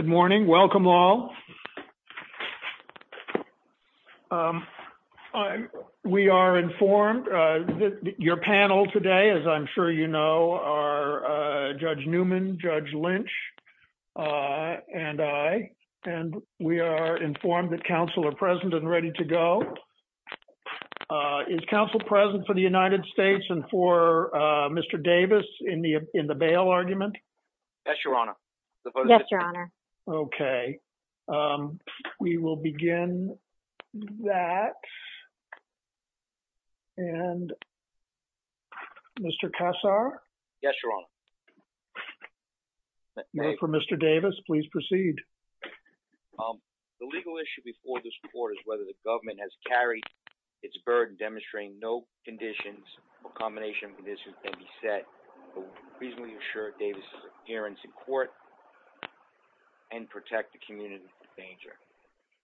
Good morning. Welcome all. We are informed that your panel today, as I'm sure you know, are Judge Newman, Judge Lynch, and I, and we are informed that counsel are present and ready to go. Is counsel present for the United States and for Mr. Davis in the in the bail argument? Yes, Your Honor. Yes, Your Honor. Okay. We will begin that. And Mr. Kassar? Yes, Your Honor. For Mr. Davis, please proceed. The legal issue before this court is whether the government has carried its burden demonstrating no conditions or combination of conditions can be set to reasonably assure Davis' appearance in court and protect the community from danger.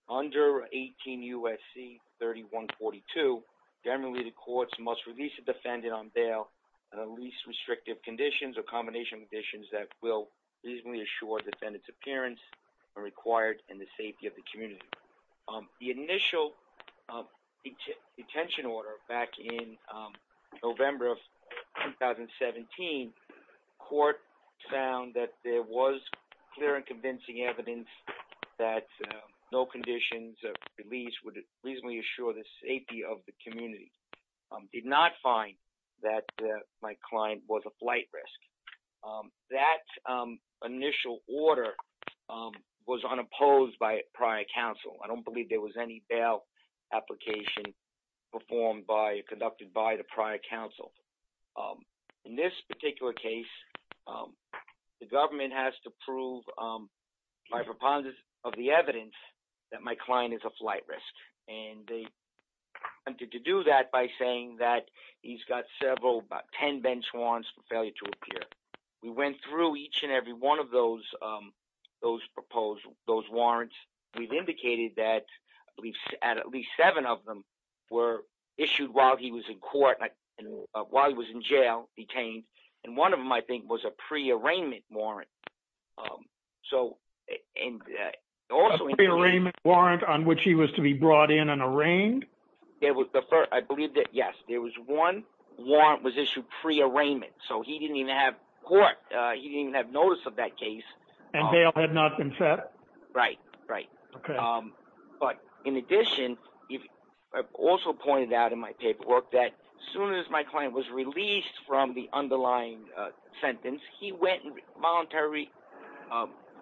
Under 18 U.S.C. 3142, generally the courts must release a defendant on bail under least restrictive conditions or combination of conditions that will reasonably assure defendant's appearance are required in the safety of the community. The initial detention order back in November of 2017, court found that there was clear and convincing evidence that no conditions of release would reasonably assure the safety of the community. Did not find that my client was a flight risk. That initial order was unopposed by prior counsel. I don't believe there was any bail application performed by or conducted by the prior counsel. In this particular case, the government has to prove by preponderance of the evidence that my client is a flight risk. And they attempted to do that by saying that he's got several, about 10 bench warrants for failure to appear. We went through each and every one of those warrants. We've indicated that at least seven of them were issued while he was in court, while he was in jail, detained. And one of them, I think, was a pre-arraignment warrant. Pre-arraignment warrant on which he was to be brought in and arraigned? I believe that, yes, there was one warrant was issued pre-arraignment. So he didn't even have court. He didn't even have notice of that case. And bail had not been set? Right, right. But in addition, I've also pointed out in my paperwork that as soon as my client was released from the underlying sentence, he went and voluntarily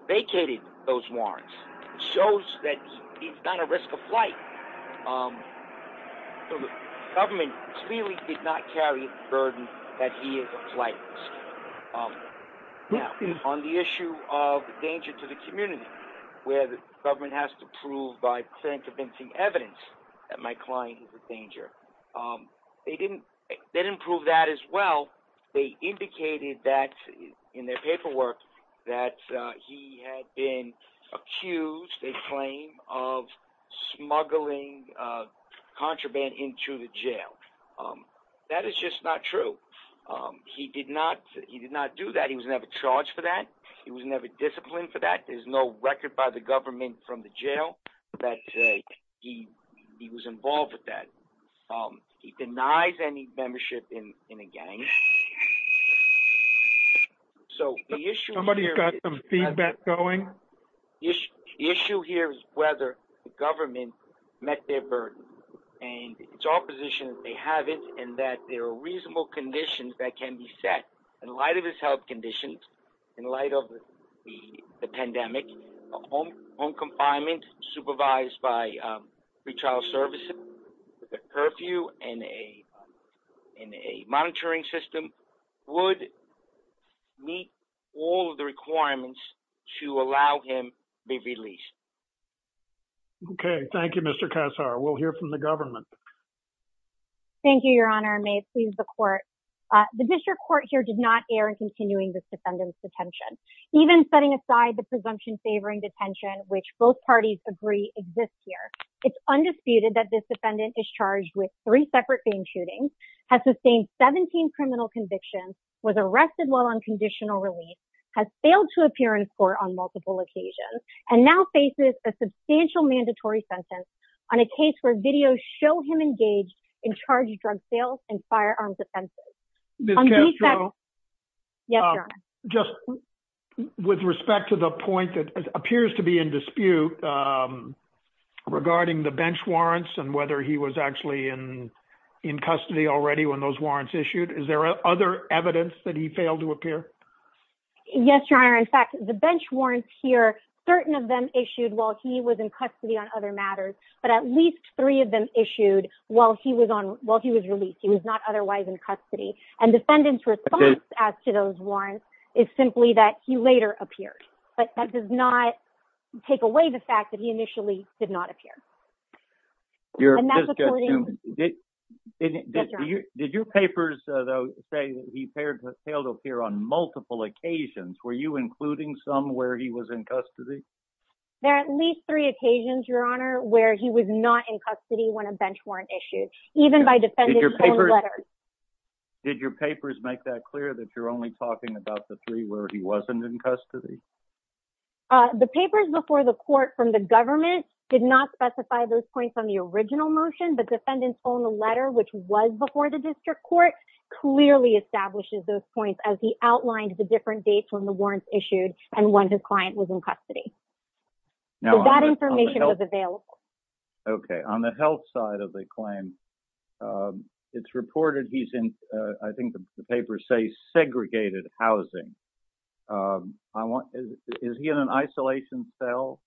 vacated those warrants. Shows that he's not at risk of flight. So the government clearly did not carry the burden that he is a flight risk. Now, on the issue of danger to the community, where the government has to prove by pre-convincing evidence that my client is a danger, they didn't prove that as well. They indicated that in their paperwork that he had been accused, they claim, of smuggling contraband into the jail. That is just not true. He did not. He did not do that. He was never charged for that. He was never disciplined for that. There's no record by the government from the jail that he was involved with that. He denies any membership in a gang. Somebody's got some feedback going? The issue here is whether the government met their burden. And it's our position that they haven't and that there are reasonable conditions that can be set in light of his health conditions, in light of the pandemic, home confinement supervised by pretrial services, the curfew and a monitoring system would meet all of the requirements to allow him to be released. Okay. Thank you, Mr. Kassar. We'll hear from the government. Thank you, Your Honor. May it please the court. The district court here did not air in continuing this defendant's detention, even setting aside the presumption favoring detention, which both parties agree exists here. It's undisputed that this defendant is charged with three separate famed shootings, has sustained 17 criminal convictions, was arrested while on conditional release, has failed to appear in court on multiple occasions, and now faces a substantial mandatory sentence on a case where video show him engaged in charge drug sales and firearms offenses. Just with respect to the point that appears to be in dispute regarding the bench warrants and whether he was actually in custody already when those warrants issued. Is there other evidence that he failed to appear? Yes, Your Honor. In fact, the bench warrants here, certain of them issued while he was in custody on other matters, but at least three of them issued while he was released. He was not otherwise in custody. And defendant's response as to those warrants is simply that he later appeared, but that does not take away the fact that he initially did not appear. Did your papers say that he failed to appear on multiple occasions? Were you including some where he was in custody? There are at least three occasions, Your Honor, where he was not in custody when a bench warrant issued, even by defendant's own letters. Did your papers make that clear that you're only talking about the three where he wasn't in custody? The papers before the court from the government did not specify those points on the original motion, but defendant's own letter, which was before the district court, clearly establishes those points as he outlined the different dates when the warrants issued and when his client was in custody. That information was available. Okay. On the health side of the claim, it's reported he's in, I think the papers say, segregated housing. Is he in an isolation cell?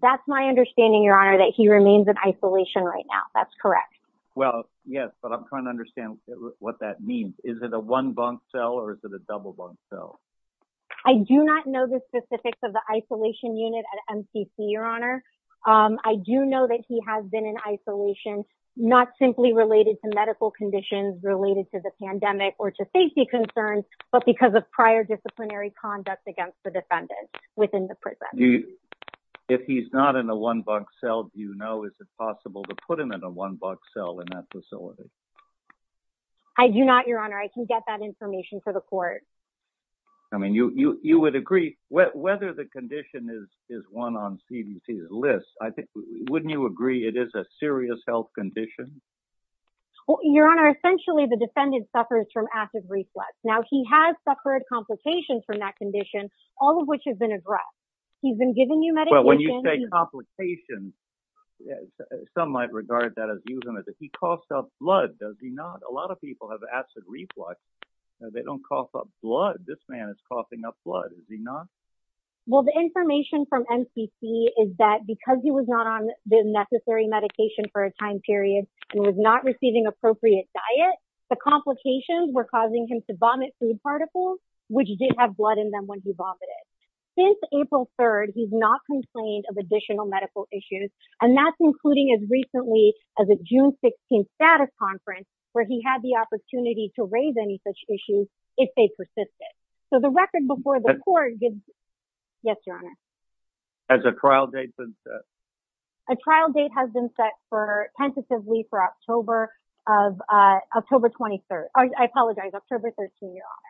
That's my understanding, Your Honor, that he remains in isolation right now. That's correct. Well, yes, but I'm trying to understand what that means. Is it a one bunk cell or is it a double bunk cell? I do not know the specifics of the isolation unit at MCC, Your Honor. I do know that he has been in isolation, not simply related to medical conditions related to the pandemic or to safety concerns, but because of prior disciplinary conduct against the defendant within the prison. If he's not in a one bunk cell, do you know, is it possible to put him in a one bunk cell in that facility? I do not, Your Honor. I can get that information for the court. I mean, you would agree, whether the condition is one on CDC's list, I think, wouldn't you agree it is a serious health condition? Your Honor, essentially the defendant suffers from acid reflux. Now, he has suffered complications from that condition, all of which has been addressed. He's been giving you medication. Well, when you say complications, some might regard that as using it. He coughed up blood, does he not? A lot of people have acid reflux. They don't cough up blood. This man is coughing up blood, is he not? Well, the information from MCC is that because he was not on the necessary medication for a period and was not receiving appropriate diet, the complications were causing him to vomit food particles, which did have blood in them when he vomited. Since April 3rd, he's not complained of additional medical issues. And that's including as recently as a June 16th status conference, where he had the opportunity to raise any such issues if they persisted. So the record before the trial date has been set tentatively for October 23rd. I apologize, October 13th, Your Honor.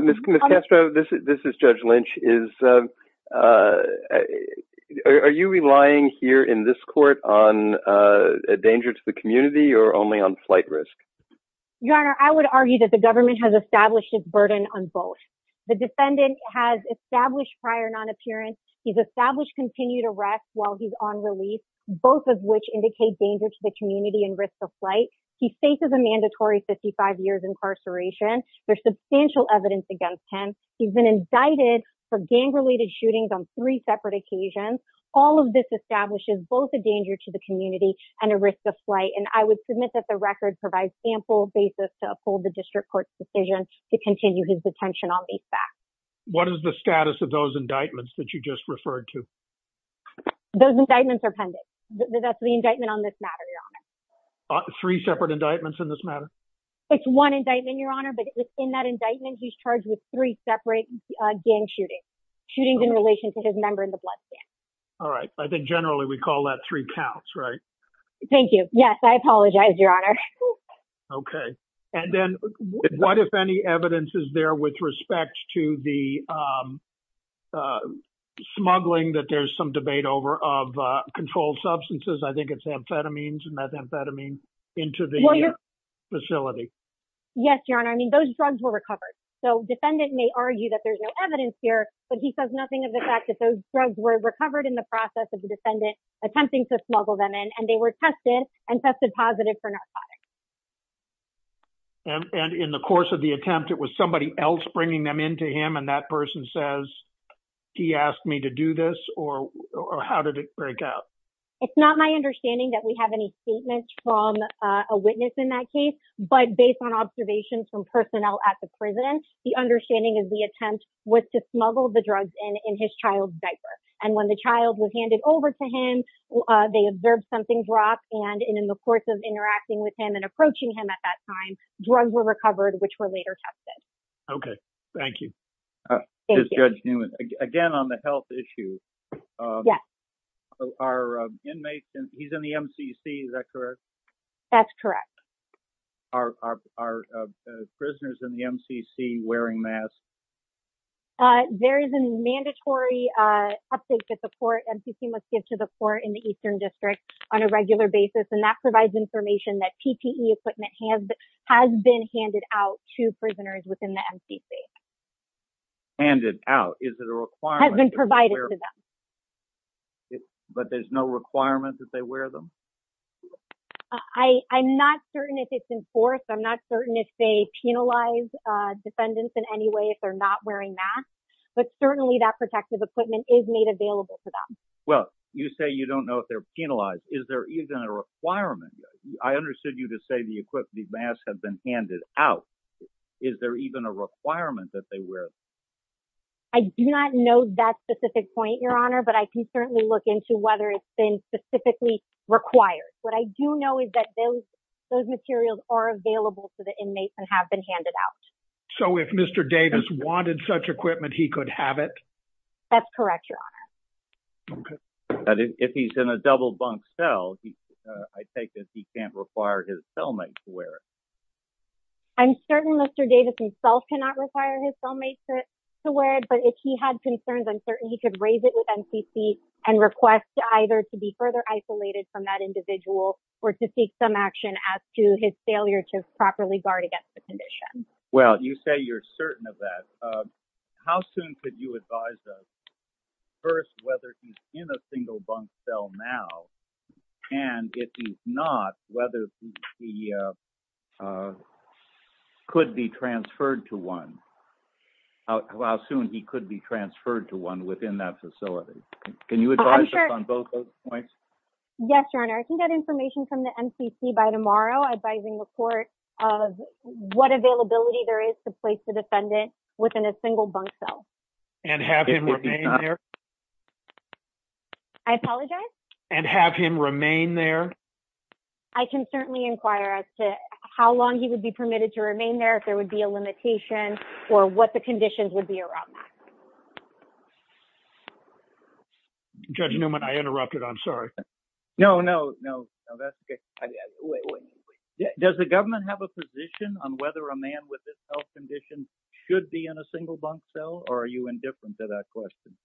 Ms. Castro, this is Judge Lynch. Are you relying here in this court on a danger to the community or only on flight risk? Your Honor, I would argue that the government has established its burden on both. The defendant has established prior non-appearance. He's established continued arrest while he's on relief, both of which indicate danger to the community and risk of flight. He faces a mandatory 55 years incarceration. There's substantial evidence against him. He's been indicted for gang-related shootings on three separate occasions. All of this establishes both a danger to the community and a risk of flight. And I would submit that the record provides ample basis to uphold the district court's decision to continue his detention on these facts. What is the status of those indictments that you just referred to? Those indictments are pending. That's the indictment on this matter, Your Honor. Three separate indictments in this matter? It's one indictment, Your Honor. But in that indictment, he's charged with three separate gang shootings, shootings in relation to his member in the blood stand. All right. I think generally we call that three counts, right? Thank you. Yes, I apologize, Your Honor. Okay. And then what, if any, evidence is there with respect to the smuggling that there's some debate over of controlled substances? I think it's amphetamines and methamphetamine into the facility. Yes, Your Honor. I mean, those drugs were recovered. So defendant may argue that there's no evidence here, but he says nothing of the fact that those drugs were recovered in the process of the defendant attempting to smuggle them in, and they were tested and tested positive for narcotics. And in the course of the attempt, it was somebody else bringing them into him, and that person says, he asked me to do this, or how did it break out? It's not my understanding that we have any statements from a witness in that case. But based on observations from personnel at the prison, the understanding is the attempt was smuggled the drugs in, in his child's diaper. And when the child was handed over to him, they observed something drop, and in the course of interacting with him and approaching him at that time, drugs were recovered, which were later tested. Okay. Thank you. This is Judge Newman. Again, on the health issue. Yes. Our inmates, he's in the MCC, is that correct? That's correct. Are, are, are prisoners in the MCC wearing masks? There is a mandatory update that the court, MCC must give to the court in the Eastern District on a regular basis, and that provides information that PPE equipment has, has been handed out to prisoners within the MCC. Handed out? Is it a requirement? Has been provided to them. But there's no requirement that they wear them? I, I'm not certain if it's enforced. I'm not certain if they penalize defendants in any way, if they're not wearing masks, but certainly that protective equipment is made available to them. Well, you say you don't know if they're penalized. Is there even a requirement? I understood you to say the equipment, the masks have been handed out. Is there even a requirement that they wear? I do not know that specific point, Your Honor, but I can certainly look into whether it's been specifically required. What I do know is that those, those materials are available to the inmates and have been handed out. So if Mr. Davis wanted such equipment, he could have it? That's correct, Your Honor. If he's in a double bunk cell, I take it he can't require his cellmate to wear it? I'm certain Mr. Davis himself cannot require his cellmate to wear it, but if he had concerns, he could raise it with NCC and request either to be further isolated from that individual or to seek some action as to his failure to properly guard against the condition. Well, you say you're certain of that. How soon could you advise us, first, whether he's in a single bunk cell now, and if he's not, whether he could be transferred to one? How soon he could be transferred to one within that facility? Can you advise us on both those points? Yes, Your Honor. I can get information from the NCC by tomorrow advising the court of what availability there is to place the defendant within a single bunk cell. And have him remain there? I apologize? And have him remain there? I can certainly inquire as to how long he would be permitted to remain there, if there would be a limitation, or what the conditions would be around that. Judge Newman, I interrupted. I'm sorry. No, no, no, that's okay. Does the government have a position on whether a man with this health condition should be in a single bunk cell, or are you indifferent to that question?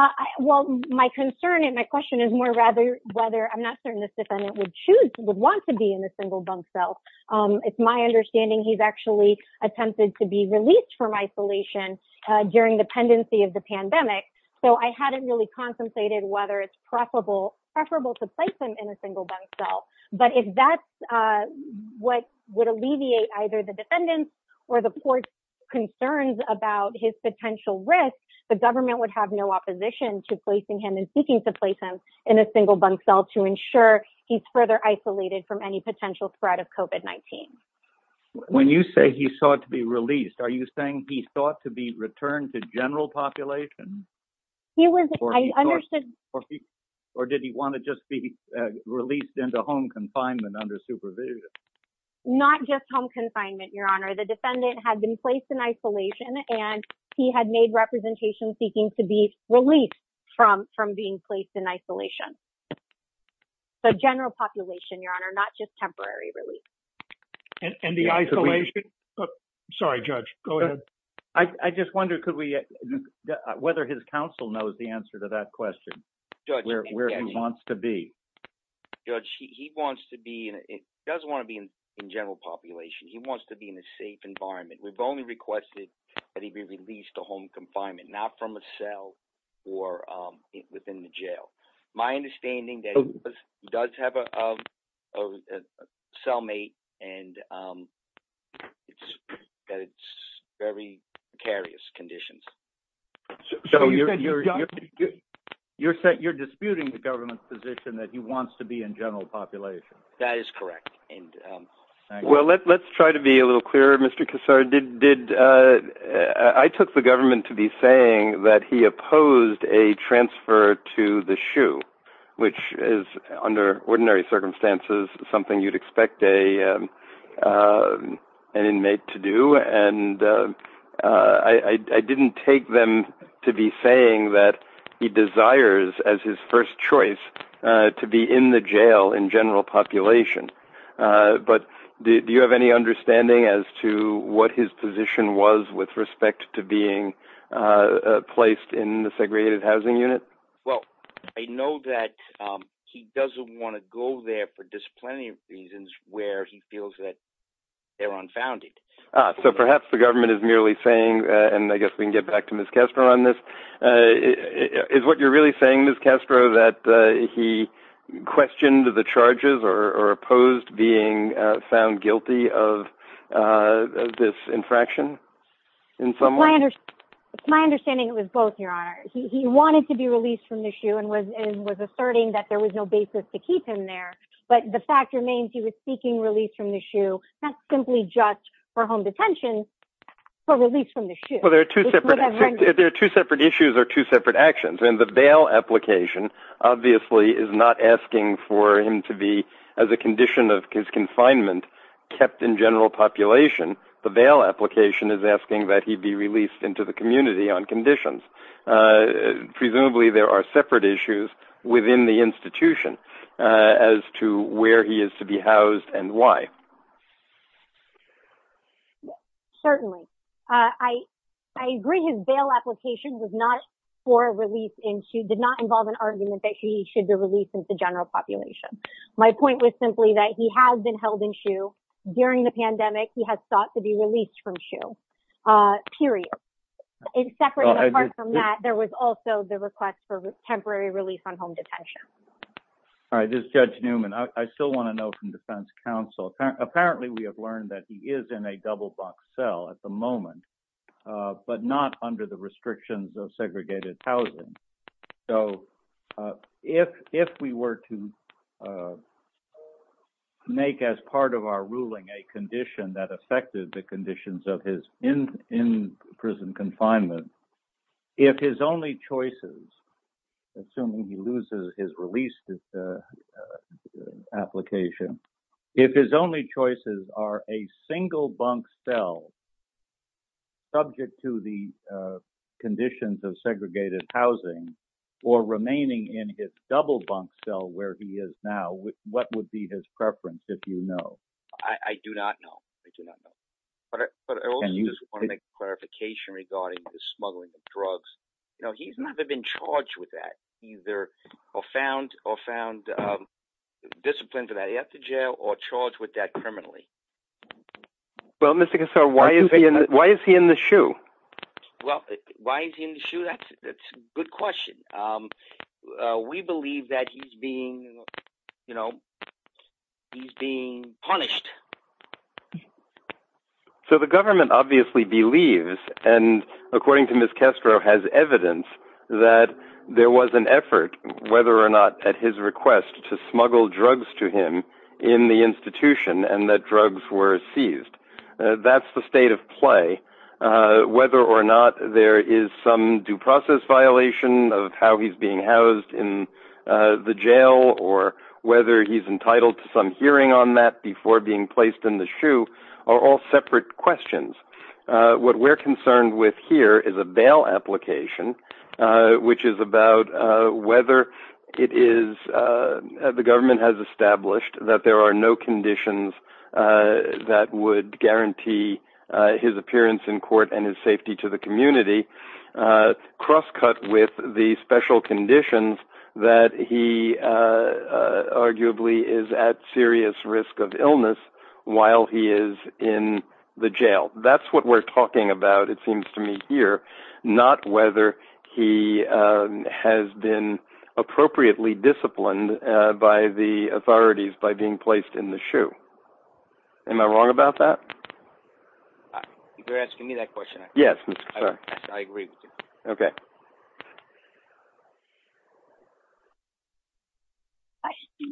I, well, my concern and my question is more rather whether, I'm not certain this defendant would choose, would want to be in a single bunk cell. It's my understanding he's actually attempted to be released from isolation during the pendency of the pandemic. So I hadn't really contemplated whether it's preferable to place him in a single bunk cell. But if that's what would alleviate either the defendant's or the court's concerns about his potential risk, the government would have no opposition to placing him and seeking to place him in a single bunk cell to ensure he's further isolated from any potential spread of COVID-19. When you say he sought to be released, are you saying he sought to be returned to general population? Or did he want to just be released into home confinement under supervision? Not just home confinement, Your Honor. The defendant had been placed in isolation, and he had made representation seeking to be released from being placed in isolation. So general population, Your Honor, not just temporary release. And the isolation, sorry, Judge, go ahead. I just wonder whether his counsel knows the answer to that question, where he wants to be. Judge, he does want to be in general population. He wants to be in a safe environment. We've only requested that he be released to home confinement, not from a cell or within the jail. My understanding that he does have a cellmate, and it's very precarious conditions. You're disputing the government's position that he wants to be in general population. That is correct. Well, let's try to be a little clearer, Mr. Kassar. I took the government to be saying that he opposed a transfer to the SHU, which is under ordinary circumstances, something you'd expect an inmate to do. And I didn't take them to be saying that he desires as his first choice to be in the jail in general population. But do you have any understanding as to what his position was with respect to being placed in the segregated housing unit? Well, I know that he doesn't want to go there for disciplinary reasons where he feels that they're unfounded. So perhaps the government is merely saying, and I guess we can get back to Ms. Castro on this, is what you're really saying, Ms. Castro, that he questioned the charges or opposed being found guilty of this infraction? My understanding was both, Your Honor. He wanted to be released from the SHU and was asserting that there was no basis to keep him there. But the fact remains, he was seeking release from the SHU, not simply just for home detention, for release from the SHU. There are two separate issues or two separate actions. And the bail application obviously is not asking for him to be, as a condition of his confinement, kept in general population. The bail application is asking that he be released into the community on conditions. Presumably there are separate issues within the institution as to where he is to be housed and why. Certainly. I agree his bail application was not for a release in SHU, did not involve an argument that he should be released into general population. My point was simply that he has been held in SHU. During the pandemic, he has sought to be released from SHU, period. And separate, apart from that, there was also the request for temporary release on home detention. All right. This is Judge Newman. I still want to know from defense counsel, apparently we have learned that he is in a double box cell at the moment, but not under the restrictions of segregated housing. So if we were to make as part of our ruling a condition that affected the conditions of his in prison confinement, if his only choices, assuming he loses his release application, if his only choices are a single bunk cell subject to the conditions of segregated housing or remaining in his double bunk cell where he is now, what would be his preference if you know? I do not know. I do not know. But I also just want to make a clarification regarding the smuggling of drugs. You know, he's never been charged with that either or found or found discipline to that he has to jail or charged with that criminally. Well, Mr. Casar, why is he in the SHU? Well, why is he in the SHU? That's a good question. We believe that he's being, you know, he's being punished. So the government obviously believes, and according to Ms. Castro has evidence, that there was an effort, whether or not at his request to smuggle drugs to him in the institution and that drugs were seized. That's the state of play. Whether or not there is some due process violation of how he's being housed in the jail or whether he's entitled to some hearing on that before being placed in the SHU are all separate questions. What we're concerned with here is a bail application, which is about whether it is, the government has established that there are no conditions that would guarantee his appearance in crosscut with the special conditions that he arguably is at serious risk of illness while he is in the jail. That's what we're talking about, it seems to me here, not whether he has been appropriately disciplined by the authorities by being placed in the SHU. Am I wrong about that? You're asking me that question. Yes, I agree with you. Okay.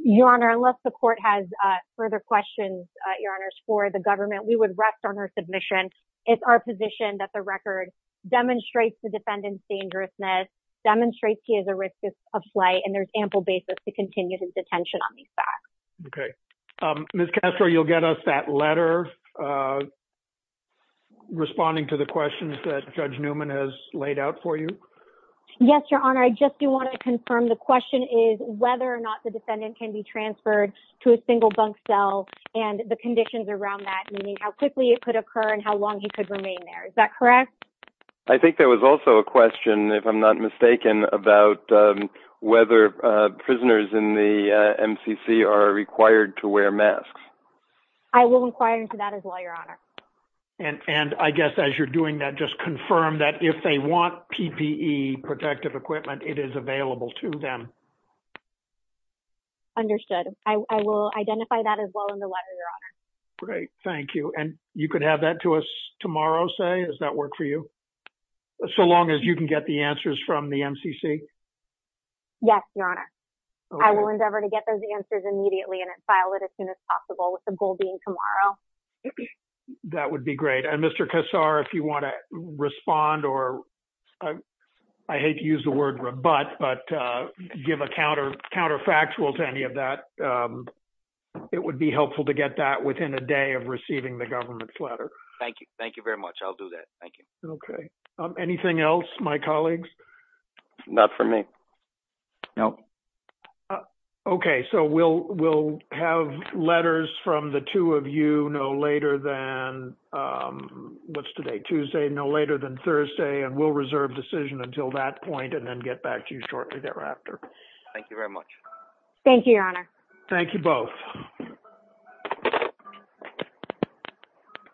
Your Honor, unless the court has further questions, Your Honors, for the government, we would rest on our submission. It's our position that the record demonstrates the defendant's dangerousness, demonstrates he has a risk of flight, and there's ample basis to respond to the questions that Judge Newman has laid out for you. Yes, Your Honor. I just do want to confirm the question is whether or not the defendant can be transferred to a single bunk cell and the conditions around that, meaning how quickly it could occur and how long he could remain there. Is that correct? I think there was also a question, if I'm not mistaken, about whether prisoners in the And I guess as you're doing that, just confirm that if they want PPE, protective equipment, it is available to them. Understood. I will identify that as well in the letter, Your Honor. Great. Thank you. And you could have that to us tomorrow, say, does that work for you? So long as you can get the answers from the MCC? Yes, Your Honor. I will endeavor to get those answers immediately and file it as soon as possible, with the goal being tomorrow. That would be great. And Mr. Kassar, if you want to respond or, I hate to use the word rebut, but give a counterfactual to any of that, it would be helpful to get that within a day of receiving the government's letter. Thank you. Thank you very much. I'll do that. Thank you. Okay. Anything else, my colleagues? Not for me. No. Okay. So we'll have letters from the two of you no later than, what's today, Tuesday, no later than Thursday, and we'll reserve decision until that point and then get back to you shortly thereafter. Thank you very much. Thank you, Your Honor. Thank you both.